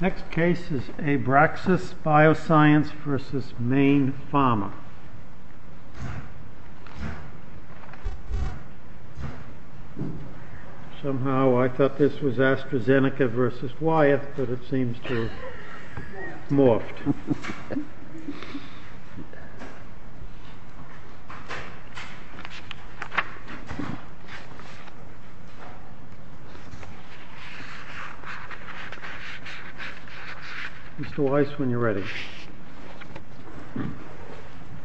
Next case is Abraxis Bioscience v. Mayne Pharma Somehow I thought this was AstraZeneca v. Wyeth, but it seems to have morphed. Mr. Weiss, when you're ready.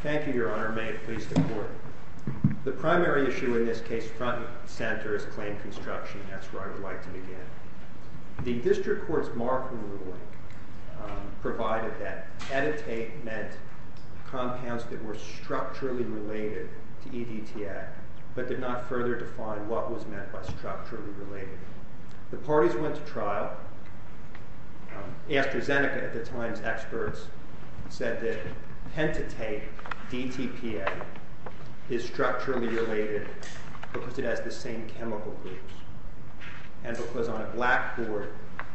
Thank you, Your Honor. May it please the Court. The primary issue in this case front and center is claim construction. That's where I would like to begin. The district court's marking rule provided that editate meant compounds that were structurally related to EDTA, but did not further define what was meant by structurally related. The parties went to trial. AstraZeneca at the time's experts said that pentitate, DTPA, is structurally related because it has the same chemical groups, and because on a blackboard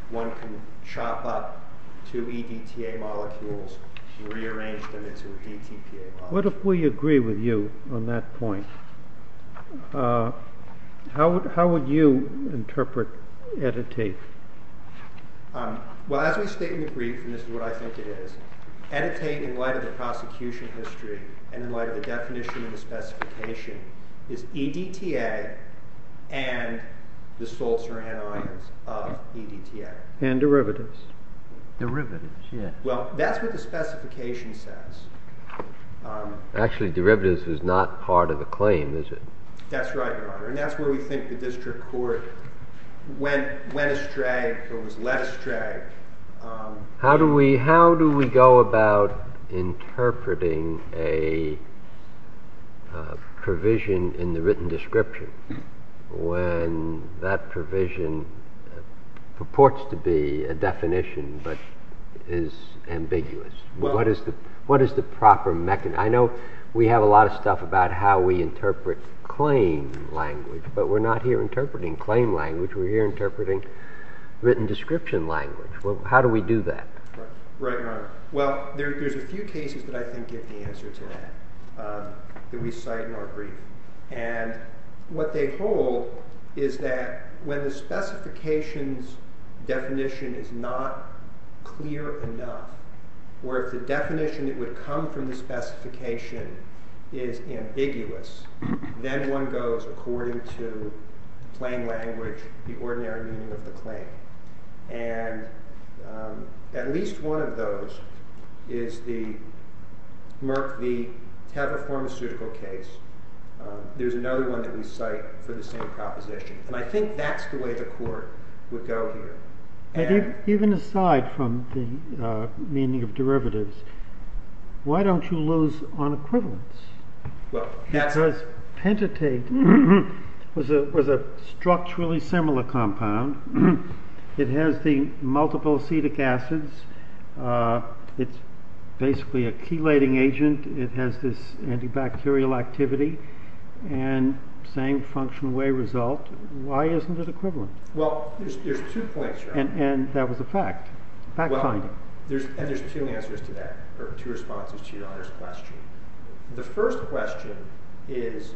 one can chop up two EDTA molecules and rearrange them into a DTPA molecule. What if we agree with you on that point? How would you interpret editate? Well, as we state in the brief, and this is what I think it is, editate, in light of the prosecution history, and in light of the definition of the specification, is EDTA and the salts or anions of EDTA. And derivatives. Derivatives? Well, that's what the specification says. Actually, derivatives is not part of the claim, is it? That's right, Your Honor, and that's where we think the district court went astray or was left astray. How do we go about interpreting a provision in the written description when that provision purports to be a definition but is ambiguous? What is the proper mechanism? I know we have a lot of stuff about how we interpret claim language, but we're not here interpreting claim language. We're here interpreting written description language. How do we do that? Right, Your Honor. Well, there's a few cases that I think give the answer to that that we cite in our brief. And what they hold is that when the specification's definition is not clear enough, or if the definition that would come from the specification is ambiguous, then one goes according to claim language, the ordinary meaning of the claim. And at least one of those is the Tether pharmaceutical case. There's another one that we cite for the same proposition. And I think that's the way the court would go here. Even aside from the meaning of derivatives, why don't you lose on equivalence? It says pentatate was a structurally similar compound. It has the multiple acetic acids. It's basically a chelating agent. It has this antibacterial activity and same functional way result. Why isn't it equivalent? Well, there's two points, Your Honor. And that was a fact. Fact finding. And there's two answers to that, or two responses to Your Honor's question. The first question is,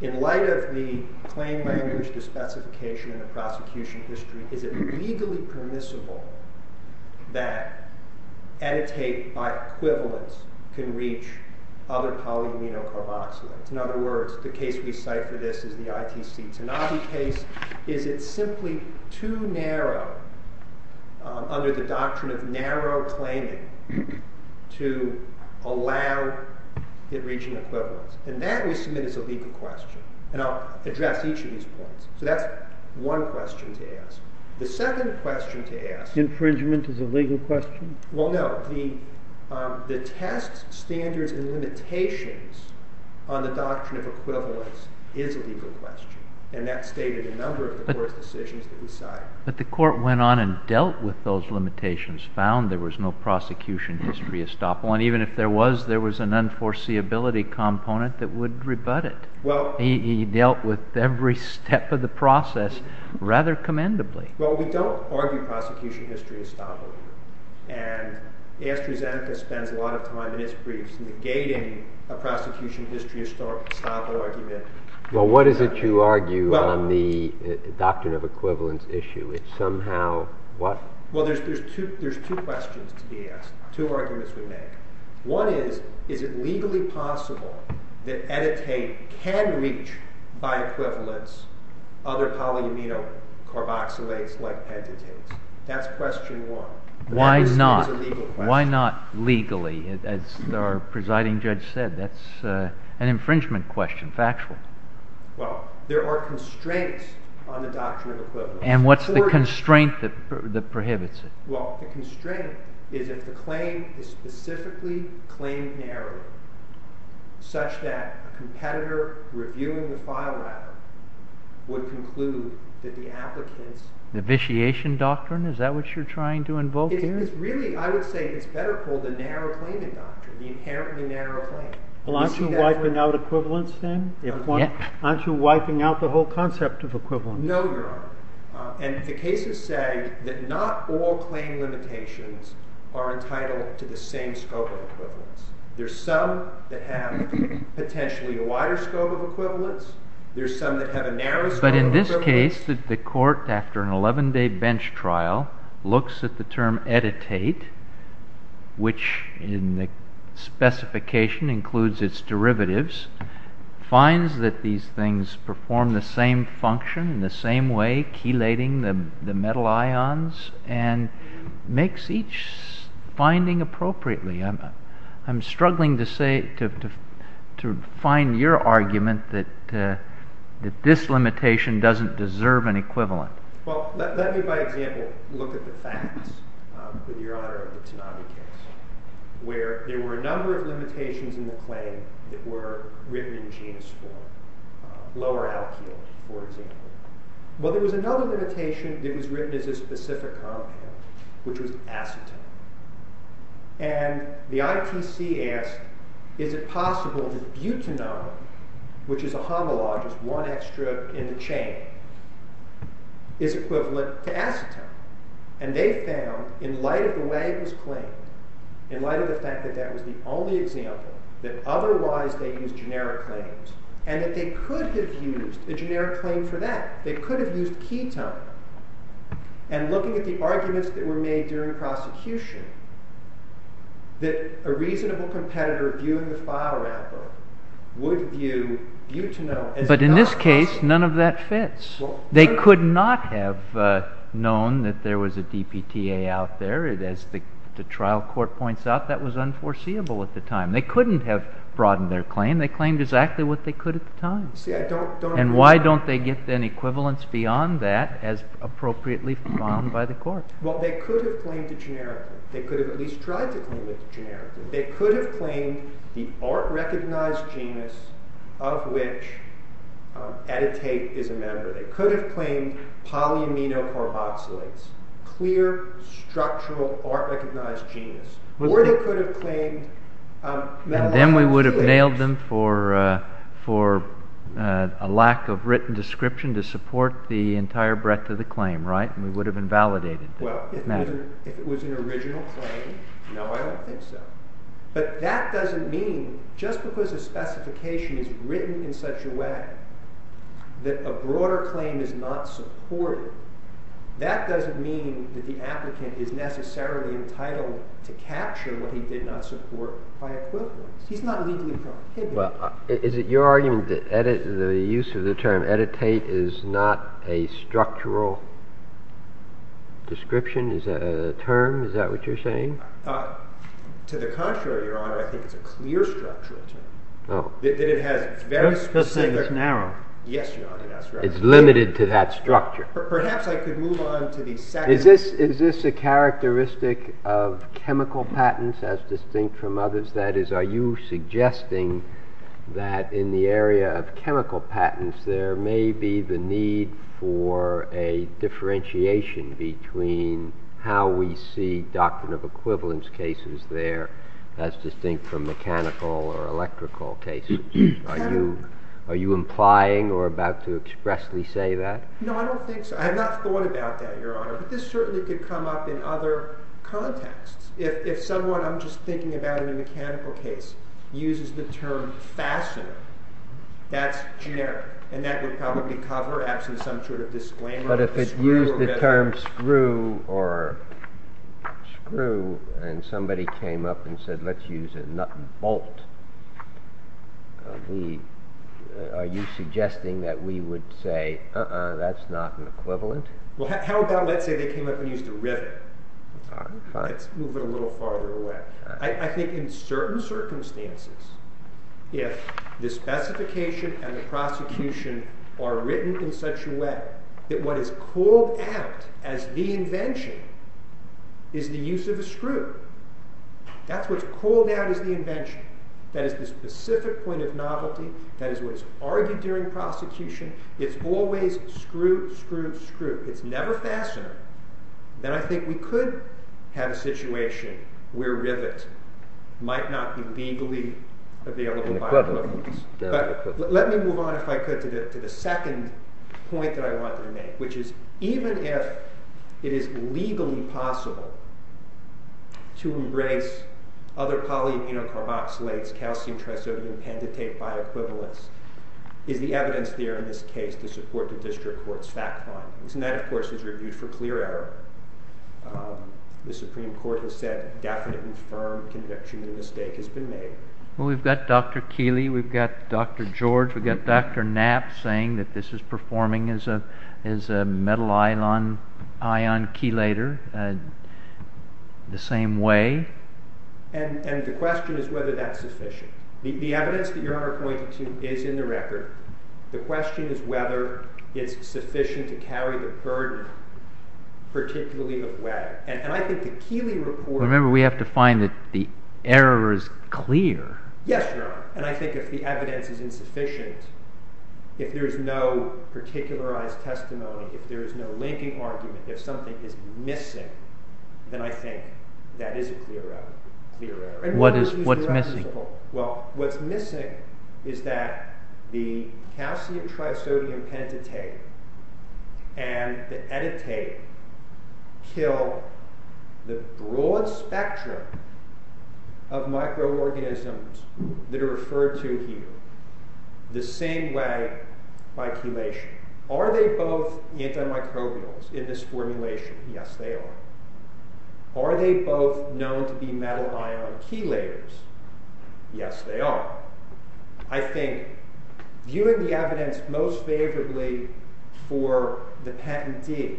in light of the claim language, the specification, and the prosecution history, is it legally permissible that editate by equivalence can reach other polyamino carboxylates? In other words, the case we cite for this is the ITC Tanabe case. Is it simply too narrow under the doctrine of narrow claiming to allow it reaching equivalence? And that, we submit, is a legal question. And I'll address each of these points. So that's one question to ask. The second question to ask— Infringement is a legal question? Well, no. The test standards and limitations on the doctrine of equivalence is a legal question. And that's stated in a number of the court's decisions that we cite. But the court went on and dealt with those limitations, found there was no prosecution history estoppel. And even if there was, there was an unforeseeability component that would rebut it. He dealt with every step of the process rather commendably. Well, we don't argue prosecution history estoppel. And AstraZeneca spends a lot of time in its briefs negating a prosecution history estoppel argument. Well, what is it you argue on the doctrine of equivalence issue? It's somehow—what? Well, there's two questions to be asked, two arguments we make. One is, is it legally possible that Editate can reach, by equivalence, other polyamino carboxylates like Pentatate? That's question one. Why not? Why not legally? As our presiding judge said, that's an infringement question, factual. Well, there are constraints on the doctrine of equivalence. And what's the constraint that prohibits it? Well, the constraint is if the claim is specifically claimed narrowly, such that a competitor reviewing the file, rather, would conclude that the applicants— The vitiation doctrine? Is that what you're trying to invoke here? It's really, I would say, it's better called the narrow claiming doctrine, the inherently narrow claim. Well, aren't you wiping out equivalence then? Aren't you wiping out the whole concept of equivalence? No, Your Honor. And the cases say that not all claim limitations are entitled to the same scope of equivalence. There's some that have potentially a wider scope of equivalence. There's some that have a narrower scope of equivalence. But in this case, the court, after an 11-day bench trial, looks at the term editate, which in the specification includes its derivatives, finds that these things perform the same function in the same way, chelating the metal ions, and makes each finding appropriately. I'm struggling to find your argument that this limitation doesn't deserve an equivalent. Well, let me, by example, look at the facts, with Your Honor, of the Tanabe case, where there were a number of limitations in the claim that were written in genus form. Lower alkyl, for example. Well, there was another limitation that was written as a specific compound, which was acetone. And the ITC asked, is it possible that butanone, which is a homologous one extra in the chain, is equivalent to acetone? And they found, in light of the way it was claimed, in light of the fact that that was the only example, that otherwise they used generic claims, and that they could have used a generic claim for that. They could have used ketone. And looking at the arguments that were made during prosecution, that a reasonable competitor, viewing the photo album, would view butanone as... But in this case, none of that fits. They could not have known that there was a DPTA out there. As the trial court points out, that was unforeseeable at the time. They couldn't have broadened their claim. They claimed exactly what they could at the time. See, I don't... And why don't they get an equivalence beyond that, as appropriately found by the court? Well, they could have claimed it generically. They could have at least tried to claim it generically. They could have claimed the art-recognized genus of which etatate is a member. They could have claimed polyamino carboxylates. Clear, structural, art-recognized genus. Or they could have claimed... Then we would have nailed them for a lack of written description to support the entire breadth of the claim, right? And we would have invalidated them. Well, if it was an original claim, no, I don't think so. But that doesn't mean... Just because a specification is written in such a way that a broader claim is not supported, that doesn't mean that the applicant is necessarily entitled to capture what he did not support by equivalence. He's not legally prohibited. Is it your argument that the use of the term etatate is not a structural description? Is that a term? Is that what you're saying? To the contrary, Your Honor, I think it's a clear structural term. Oh. That it has very specific... You're just saying it's narrow. Yes, Your Honor, that's right. It's limited to that structure. Perhaps I could move on to the second... Is this a characteristic of chemical patents as distinct from others? That is, are you suggesting that in the area of chemical patents there may be the need for a differentiation between how we see doctrine of equivalence cases there as distinct from mechanical or electrical cases? Are you implying or about to expressly say that? No, I don't think so. I have not thought about that, Your Honor, but this certainly could come up in other contexts. If someone, I'm just thinking about in a mechanical case, uses the term fastener, that's generic, and that would probably cover actually some sort of disclaimer. But if it used the term screw or screw and somebody came up and said, let's use a nut and bolt, are you suggesting that we would say, uh-uh, that's not an equivalent? How about let's say they came up and used a rivet? Let's move it a little farther away. I think in certain circumstances, if the specification and the prosecution are written in such a way that what is called out as the invention is the use of a screw, that's what's called out as the invention. That is the specific point of novelty. That is what is argued during prosecution. It's always screw, screw, screw. It's never fastener. Then I think we could have a situation where rivet might not be legally available by all means. But let me move on, if I could, to the second point that I wanted to make, which is even if it is legally possible to embrace other polyamino carboxylates, calcium, trisodium, pentatate by equivalence, is the evidence there in this case to support the district court's fact findings? And that, of course, is reviewed for clear error. The Supreme Court has said definite and firm conviction the mistake has been made. Well, we've got Dr. Keeley, we've got Dr. George, we've got Dr. Knapp saying that this is performing as a metal ion chelator. The same way. And the question is whether that's sufficient. The evidence that you are pointing to is in the record. The question is whether it's sufficient to carry the burden, particularly of weather. And I think the Keeley report... Remember, we have to find that the error is clear. Yes, Your Honor. And I think if the evidence is insufficient, if there is no particularized testimony, if there is no linking argument, if something is missing, then I think that is a clear error. What's missing? Well, what's missing is that the calcium trisodium pentatate and the editate kill the broad spectrum of microorganisms that are referred to here the same way by chelation. Are they both antimicrobials in this formulation? Yes, they are. Are they both known to be metal ion chelators? Yes, they are. I think viewing the evidence most favorably for the patentee,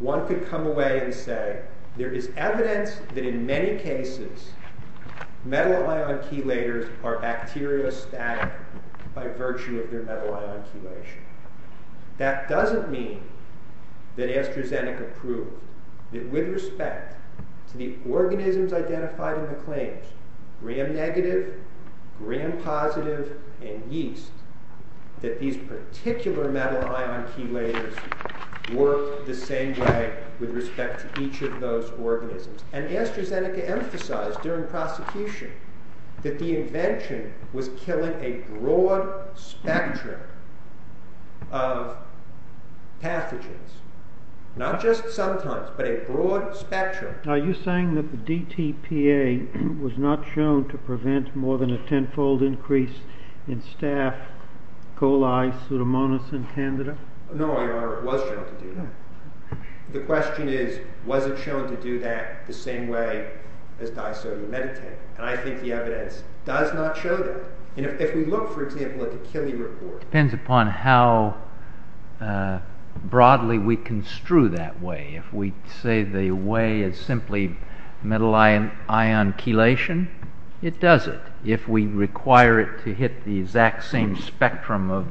one could come away and say, there is evidence that in many cases metal ion chelators are bacteriostatic by virtue of their metal ion chelation. That doesn't mean that AstraZeneca proved that with respect to the organisms identified in the claims, gram-negative, gram-positive, and yeast, that these particular metal ion chelators work the same way with respect to each of those organisms. And AstraZeneca emphasized during prosecution that the invention was killing a broad spectrum of pathogens. Not just sometimes, but a broad spectrum. Are you saying that the DTPA was not shown to prevent more than a tenfold increase in staph, coli, pseudomonas, and candida? No, Your Honor, it was shown to do that. The question is, was it shown to do that the same way as disodium medicated? And I think the evidence does not show that. If we look, for example, at the Kili report... It depends upon how broadly we construe that way. If we say the way is simply metal ion chelation, it does it. If we require it to hit the exact same spectrum of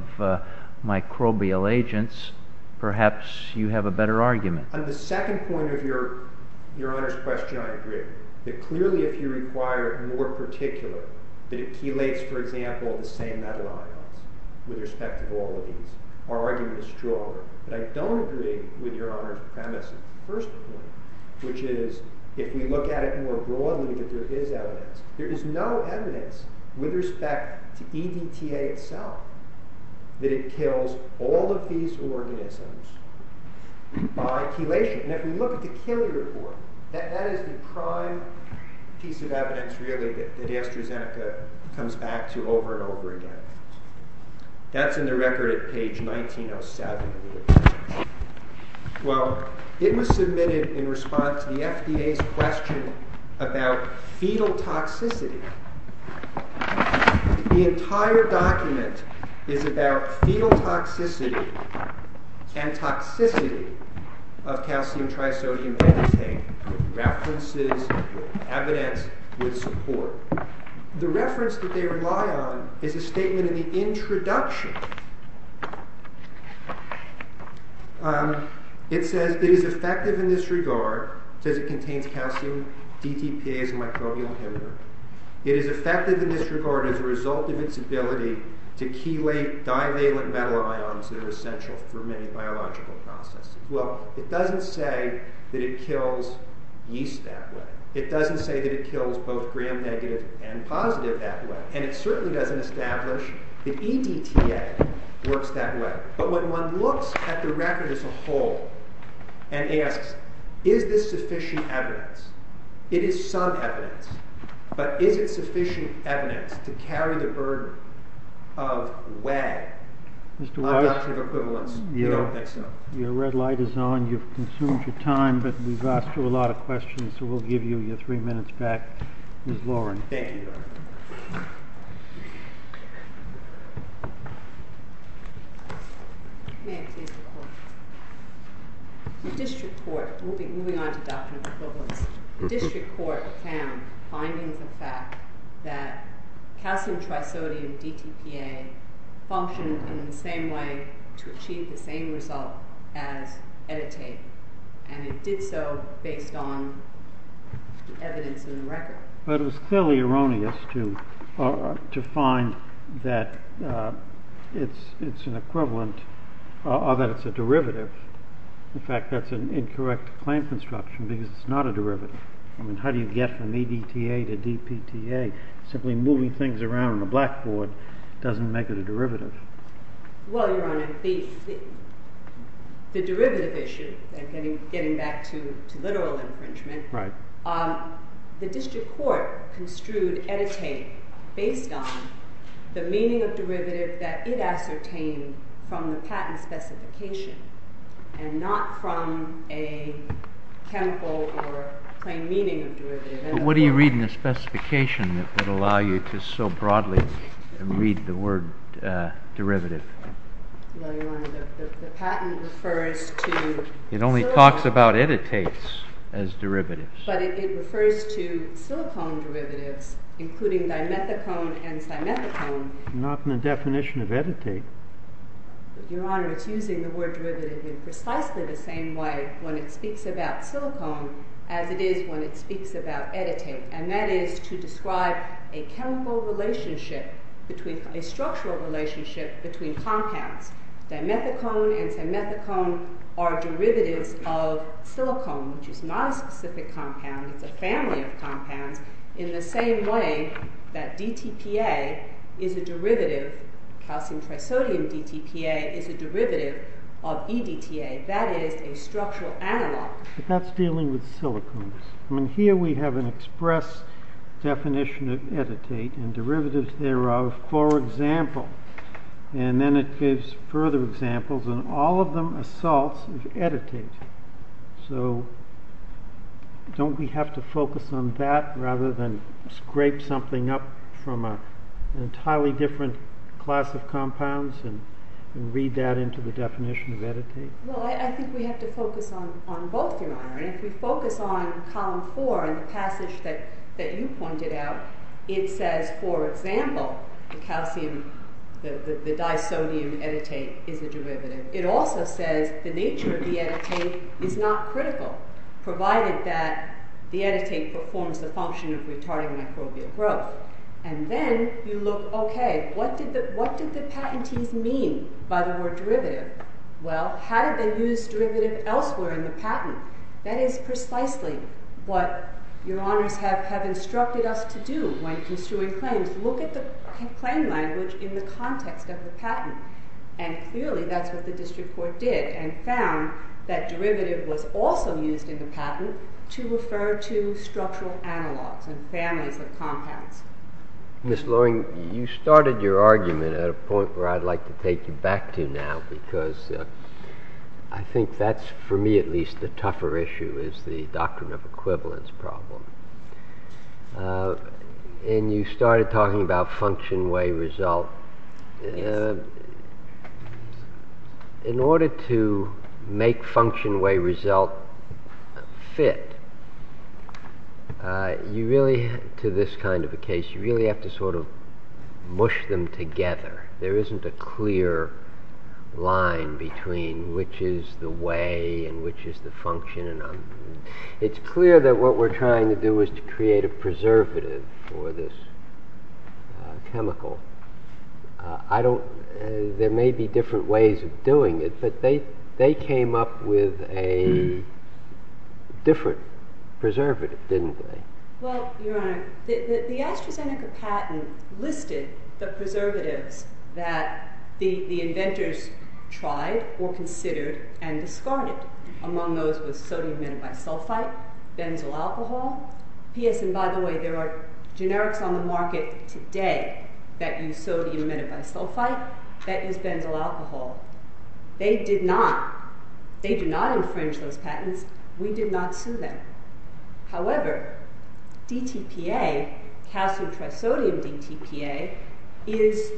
microbial agents, perhaps you have a better argument. On the second point of Your Honor's question, I agree. Clearly, if you require more particular, that it chelates, for example, the same metal ions with respect to all of these, our argument is stronger. But I don't agree with Your Honor's premise of the first point, which is, if we look at it more broadly, that there is evidence. There is no evidence with respect to EDTA itself that it kills all of these organisms by chelation. And if we look at the Kili report, that is the prime piece of evidence, really, that AstraZeneca comes back to over and over again. That's in the record at page 1907 of the report. Well, it was submitted in response to the FDA's question about fetal toxicity. The entire document is about fetal toxicity and toxicity of calcium trisodium EDTA, references, evidence, with support. The reference that they rely on is a statement in the introduction. It says, it is effective in this regard, says it contains calcium DTPA as a microbial inhibitor. It is effective in this regard as a result of its ability to chelate divalent metal ions that are essential for many biological processes. Well, it doesn't say that it kills yeast that way. It doesn't say that it kills both gram-negative and positive that way. And it certainly doesn't establish that EDTA works that way. But when one looks at the record as a whole and asks, is this sufficient evidence? It is some evidence. But is it sufficient evidence to carry the burden of way? I'm not sure of equivalence. I don't think so. Your red light is on. You've consumed your time. But we've asked you a lot of questions. So we'll give you your three minutes back. Ms. Lauren. Thank you. Sure. May I please report? The district court, moving on to doctrine of equivalence, the district court found findings of fact that calcium trisodium DTPA functioned in the same way to achieve the same result as EDTA. And it did so based on the evidence in the record. But it was clearly erroneous to find that it's an equivalent or that it's a derivative. In fact, that's an incorrect claim construction because it's not a derivative. I mean, how do you get from EDTA to DPTA? Simply moving things around on a blackboard doesn't make it a derivative. Well, Your Honor, the derivative issue, getting back to literal infringement, the district court construed EDTA based on the meaning of derivative that it ascertained from the patent specification and not from a chemical or plain meaning of derivative. But what do you read in the specification that would allow you to so broadly read the word derivative? Well, Your Honor, the patent refers to... It only talks about editates as derivatives. But it refers to silicone derivatives including dimethicone and simethicone. Not in the definition of editate. Your Honor, it's using the word derivative in precisely the same way when it speaks about silicone as it is when it speaks about editate. And that is to describe a chemical relationship, a structural relationship between compounds. Dimethicone and simethicone are derivatives of silicone, which is not a specific compound. It's a family of compounds in the same way that DTPA is a derivative, calcium trisodium DTPA is a derivative of EDTA. That is a structural analog. But that's dealing with silicones. I mean, here we have an express definition of editate and derivatives thereof. And then it gives further examples, and all of them are salts of editate. So don't we have to focus on that rather than scrape something up from an entirely different class of compounds and read that into the definition of editate? Well, I think we have to focus on both, Your Honor. If we focus on column 4 in the passage that you pointed out, it says, for example, the calcium, the disodium editate is a derivative. It also says the nature of the editate is not critical, provided that the editate performs the function of retarding microbial growth. And then you look, okay, what did the patentees mean by the word derivative? Well, how did they use derivative elsewhere in the patent? That is precisely what Your Honors have instructed us to do when construing claims. Look at the claim language in the context of the patent. And clearly that's what the district court did and found that derivative was also used in the patent to refer to structural analogs and families of compounds. Mr. Loring, you started your argument at a point where I'd like to take you back to now because I think that's, for me at least, the tougher issue is the doctrine of equivalence problem. And you started talking about function, way, result. In order to make function, way, result fit, you really, to this kind of a case, you really have to sort of mush them together. There isn't a clear line between which is the way and which is the function. It's clear that what we're trying to do is to create a preservative for this chemical. There may be different ways of doing it, but they came up with a different preservative, didn't they? Well, Your Honor, the AstraZeneca patent listed the preservatives that the inventors tried or considered and discarded. Among those was sodium metabisulfite, benzyl alcohol. P.S., and by the way, there are generics on the market today that use sodium metabisulfite, that use benzyl alcohol. They did not. They did not infringe those patents. We did not sue them. However, DTPA, calcium trisodium DTPA, is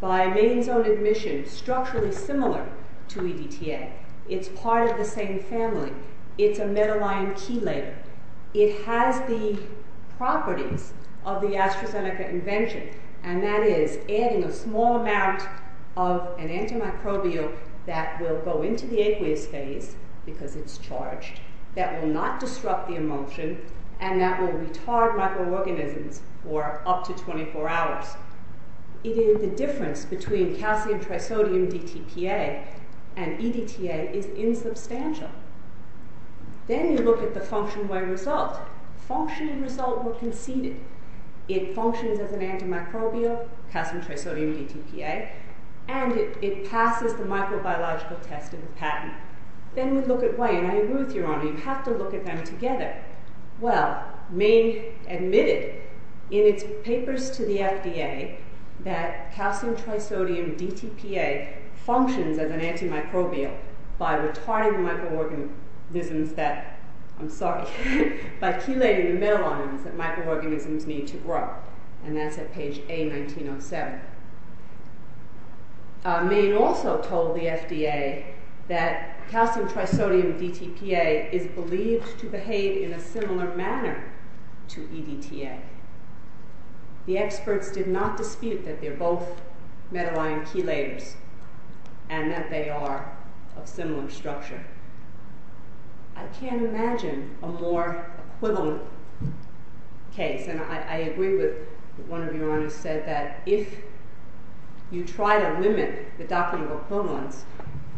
by main zone admission structurally similar to EDTA. It's part of the same family. It's a metal ion chelator. It has the properties of the AstraZeneca invention, and that is adding a small amount of an antimicrobial that will go into the aqueous phase, because it's charged, that will not disrupt the emulsion, and that will retard microorganisms for up to 24 hours. The difference between calcium trisodium DTPA and EDTA is insubstantial. Then you look at the function-way result. Function-result were conceded. It functions as an antimicrobial, calcium trisodium DTPA, and it passes the microbiological test in the patent. Then we look at way, and I agree with Your Honor, you have to look at them together. Well, Maine admitted in its papers to the FDA that calcium trisodium DTPA functions as an antimicrobial by retarding microorganisms that, I'm sorry, by chelating the metal ions that microorganisms need to grow, and that's at page A1907. Maine also told the FDA that calcium trisodium DTPA is believed to behave in a similar manner to EDTA. The experts did not dispute that they're both metal ion chelators and that they are of similar structure. I can't imagine a more equivalent case, and I agree with what one of Your Honors said, that if you try to limit the document of equivalence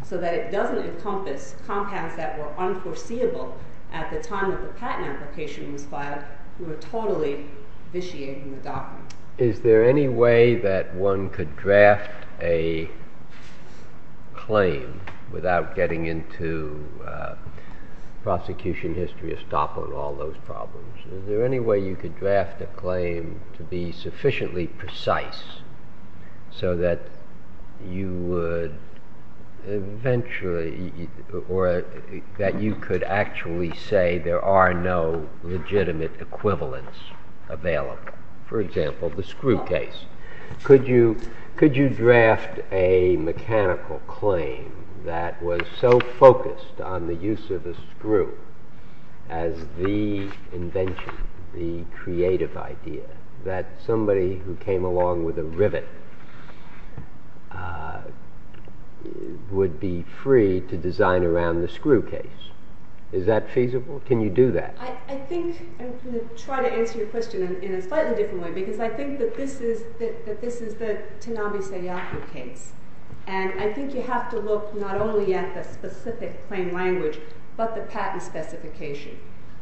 so that it doesn't encompass compounds that were unforeseeable at the time that the patent application was filed, you are totally vitiating the document. Is there any way that one could draft a claim without getting into prosecution history or stop on all those problems? Is there any way you could draft a claim to be sufficiently precise so that you could actually say there are no legitimate equivalents available? For example, the screw case. Could you draft a mechanical claim that was so focused on the use of the screw as the invention, the creative idea, that somebody who came along with a rivet would be free to design around the screw case? Is that feasible? Can you do that? I think I'm going to try to answer your question in a slightly different way because I think that this is the Tanabe Seiyaku case, and I think you have to look not only at the specific claim language but the patent specification.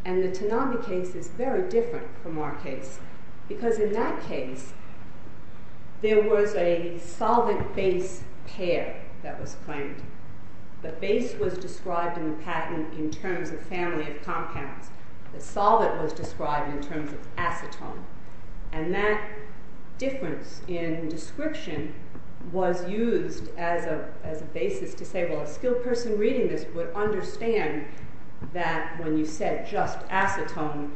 And the Tanabe case is very different from our case because in that case there was a solvent-base pair that was claimed. The base was described in the patent in terms of family of compounds. The solvent was described in terms of acetone. And that difference in description was used as a basis to say, well, a skilled person reading this would understand that when you said just acetone,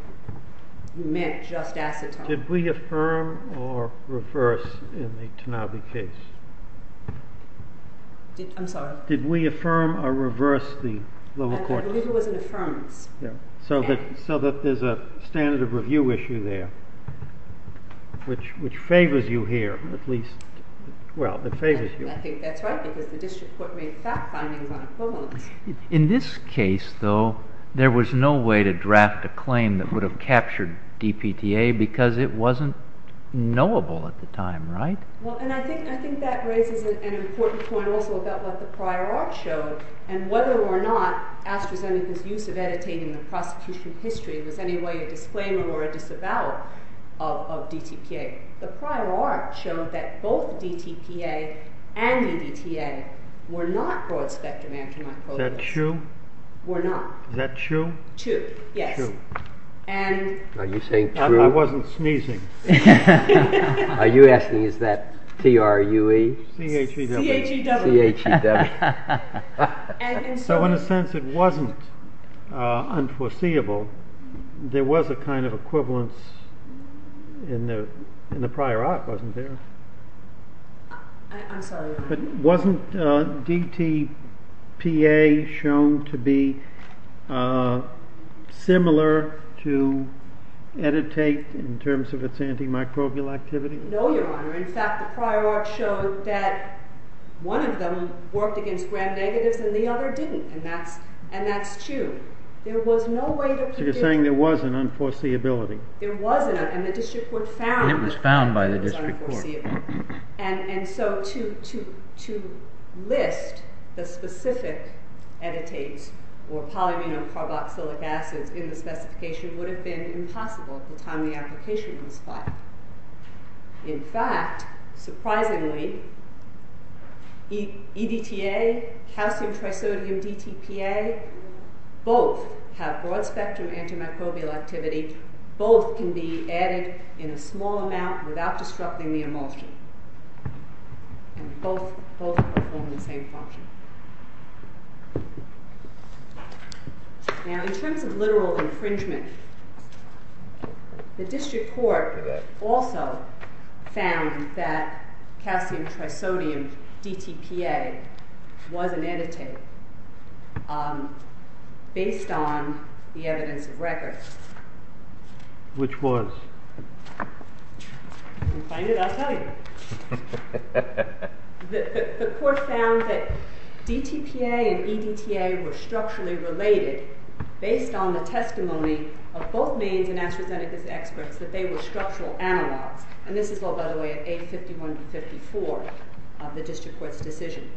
you meant just acetone. Did we affirm or reverse in the Tanabe case? I'm sorry? Did we affirm or reverse the lower court? I believe it was an affirmance. So that there's a standard of review issue there which favors you here, at least. Well, it favors you. And I think that's right because the district court made fact findings on equivalence. In this case, though, there was no way to draft a claim that would have captured DPTA because it wasn't knowable at the time, right? Well, and I think that raises an important point also about what the prior art showed and whether or not AstraZeneca's use of editating the prosecution history was in any way a disclaimer or a disavowal of DTPA. The prior art showed that both DTPA and EDTA were not broad-spectrum antimicrobials. Is that true? Were not. Is that true? True, yes. Are you saying true? I wasn't sneezing. Are you asking, is that T-R-U-E? C-H-E-W. C-H-E-W. So in a sense, it wasn't unforeseeable. There was a kind of equivalence in the prior art, wasn't there? I'm sorry. Wasn't DTPA shown to be similar to EDTA in terms of its antimicrobial activity? No, Your Honor. In fact, the prior art showed that one of them worked against grand negatives and the other didn't, and that's true. So you're saying there was an unforeseeability. There was, and the district court found that it was unforeseeable. And it was found by the district court. And so to list the specific editates or polyphenolcarboxylic acids in the specification would have been impossible at the time the application was filed. In fact, surprisingly, EDTA, calcium trisodium DTPA, both have broad-spectrum antimicrobial activity. Both can be added in a small amount without disrupting the emulsion. And both perform the same function. Now, in terms of literal infringement, the district court also found that calcium trisodium DTPA was an editate based on the evidence of records. Which was? You can find it. I'll tell you. The court found that DTPA and EDTA were structurally related based on the testimony of both means and AstraZeneca's experts that they were structural analogs. And this is all, by the way, at A51 to 54 of the district court's decision.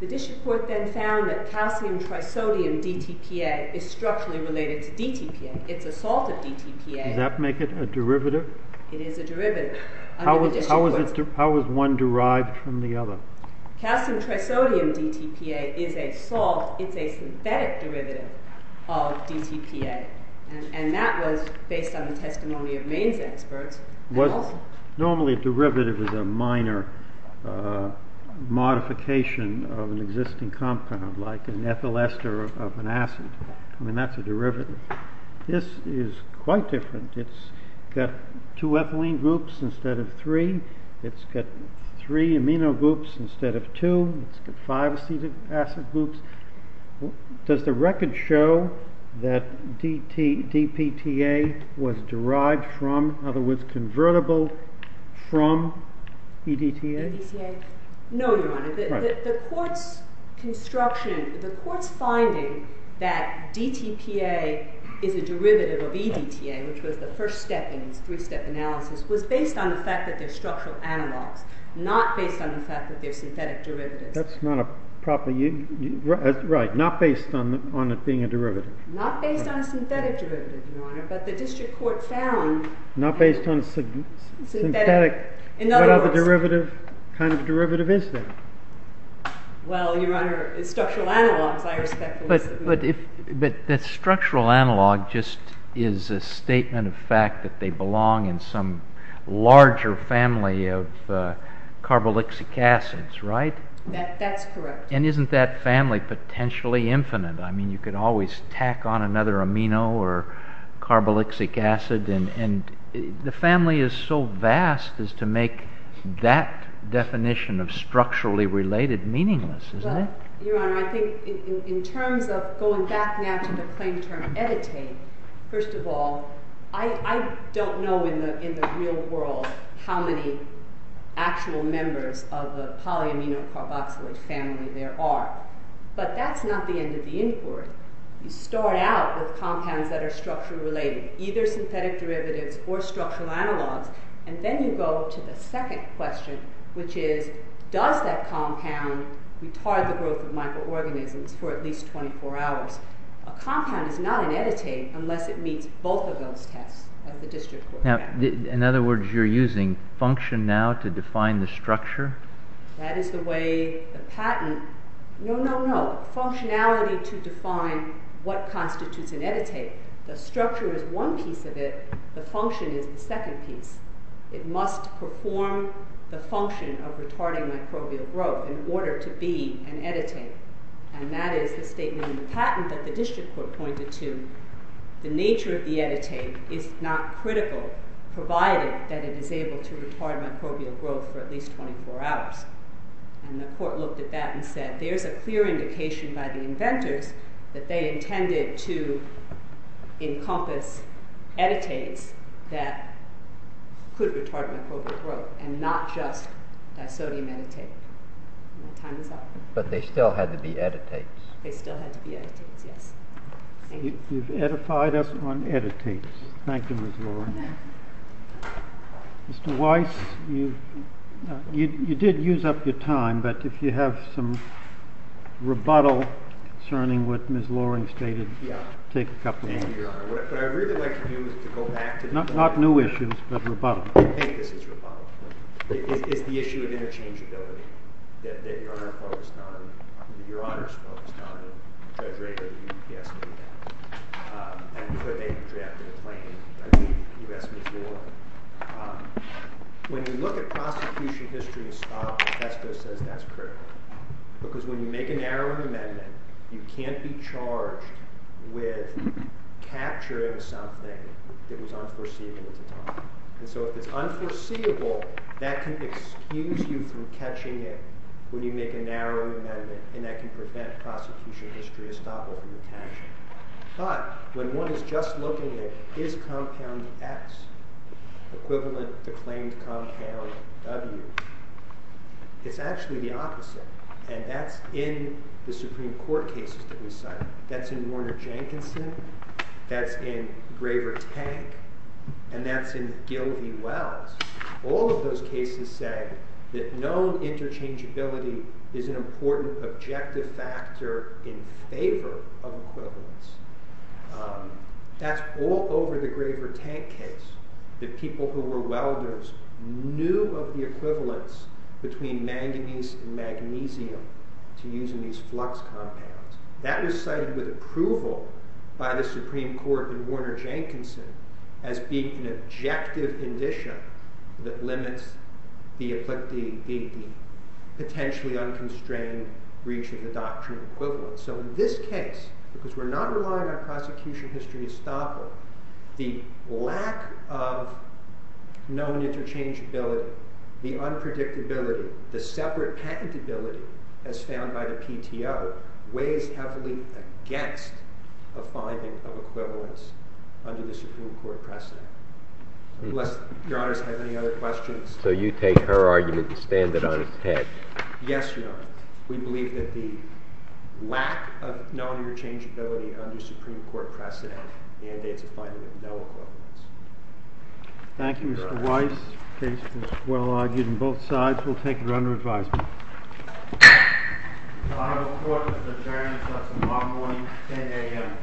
The district court then found that calcium trisodium DTPA is structurally related to DTPA. It's a salt of DTPA. Does that make it a derivative? It is a derivative. How was one derived from the other? Calcium trisodium DTPA is a salt. It's a synthetic derivative of DTPA. And that was based on the testimony of Maine's experts. Normally a derivative is a minor modification of an existing compound, like an ethyl ester of an acid. I mean, that's a derivative. This is quite different. It's got two ethylene groups instead of three. It's got three amino groups instead of two. It's got five acetic acid groups. Does the record show that DPTA was derived from, in other words, convertible from EDTA? EDTA? No, Your Honor. The court's construction, the court's finding that DTPA is a derivative of EDTA, which was the first step in this three-step analysis, was based on the fact that they're structural analogs, not based on the fact that they're synthetic derivatives. That's not a proper use. Not based on a synthetic derivative, Your Honor. But the district court found. Not based on a synthetic. In other words. What kind of derivative is that? Well, Your Honor, it's structural analogs, I expect. But the structural analog just is a statement of fact that they belong in some larger family of carboxylic acids, right? That's correct. And isn't that family potentially infinite? I mean, you could always tack on another amino or carboxylic acid. And the family is so vast as to make that definition of structurally related meaningless, isn't it? Well, Your Honor, I think in terms of going back now to the claim term EDTA, first of all, I don't know in the real world how many actual members of a polyamino carboxylic family there are. But that's not the end of the inquiry. You start out with compounds that are structurally related, either synthetic derivatives or structural analogs. And then you go to the second question, which is, does that compound retard the growth of microorganisms for at least 24 hours? A compound is not an EDTA unless it meets both of those tests of the district court. Now, in other words, you're using function now to define the structure? That is the way the patent. No, no, no. You're going to define what constitutes an EDTA. The structure is one piece of it. The function is the second piece. It must perform the function of retarding microbial growth in order to be an EDTA. And that is the statement in the patent that the district court pointed to. The nature of the EDTA is not critical, provided that it is able to retard microbial growth for at least 24 hours. And the court looked at that and said, there's a clear indication by the inventors that they intended to encompass editates that could retard microbial growth, and not just disodium editate. My time is up. But they still had to be editates. They still had to be editates, yes. Thank you. You've edified us on editates. Thank you, Ms. Lauren. Mr. Weiss, you did use up your time. But if you have some rebuttal concerning what Ms. Lauren stated, take a couple of minutes. Thank you, Your Honor. What I'd really like to do is to go back to the point. Not new issues, but rebuttal. I think this is rebuttal. It's the issue of interchangeability that Your Honor is focused on. And Judge Reagan, you asked me that. And before they drafted a claim, you asked me before. When you look at prosecution history in style, Bethesda says that's critical. Because when you make a narrow amendment, you can't be charged with capturing something that was unforeseeable at the time. And so if it's unforeseeable, that can excuse you from catching it when you make a narrow amendment. And that can prevent prosecution history to stop it from attaching. But when one is just looking at is compound X equivalent to the claimed compound W, it's actually the opposite. And that's in the Supreme Court cases that we cited. That's in Warner-Jankinson. That's in Graver Tank. And that's in Gil v. Wells. All of those cases say that known interchangeability is an important objective factor in favor of equivalence. That's all over the Graver Tank case. That people who were welders knew of the equivalence between manganese and magnesium to using these flux compounds. That was cited with approval by the Supreme Court in Warner-Jankinson as being an objective condition that limits the potentially unconstrained reach of the doctrine of equivalence. So in this case, because we're not relying on prosecution history to stop it, the lack of known interchangeability, the unpredictability, the separate patentability as found by the PTO weighs heavily against a finding of equivalence under the Supreme Court precedent. Unless Your Honors have any other questions. So you take her argument and stand it on its head. Yes, Your Honor. We believe that the lack of known interchangeability under Supreme Court precedent mandates a finding of no equivalence. Thank you, Mr. Weiss. The case was well argued on both sides. We'll take it under advisement. The final court is adjourned. So that's a long one. 10 AM.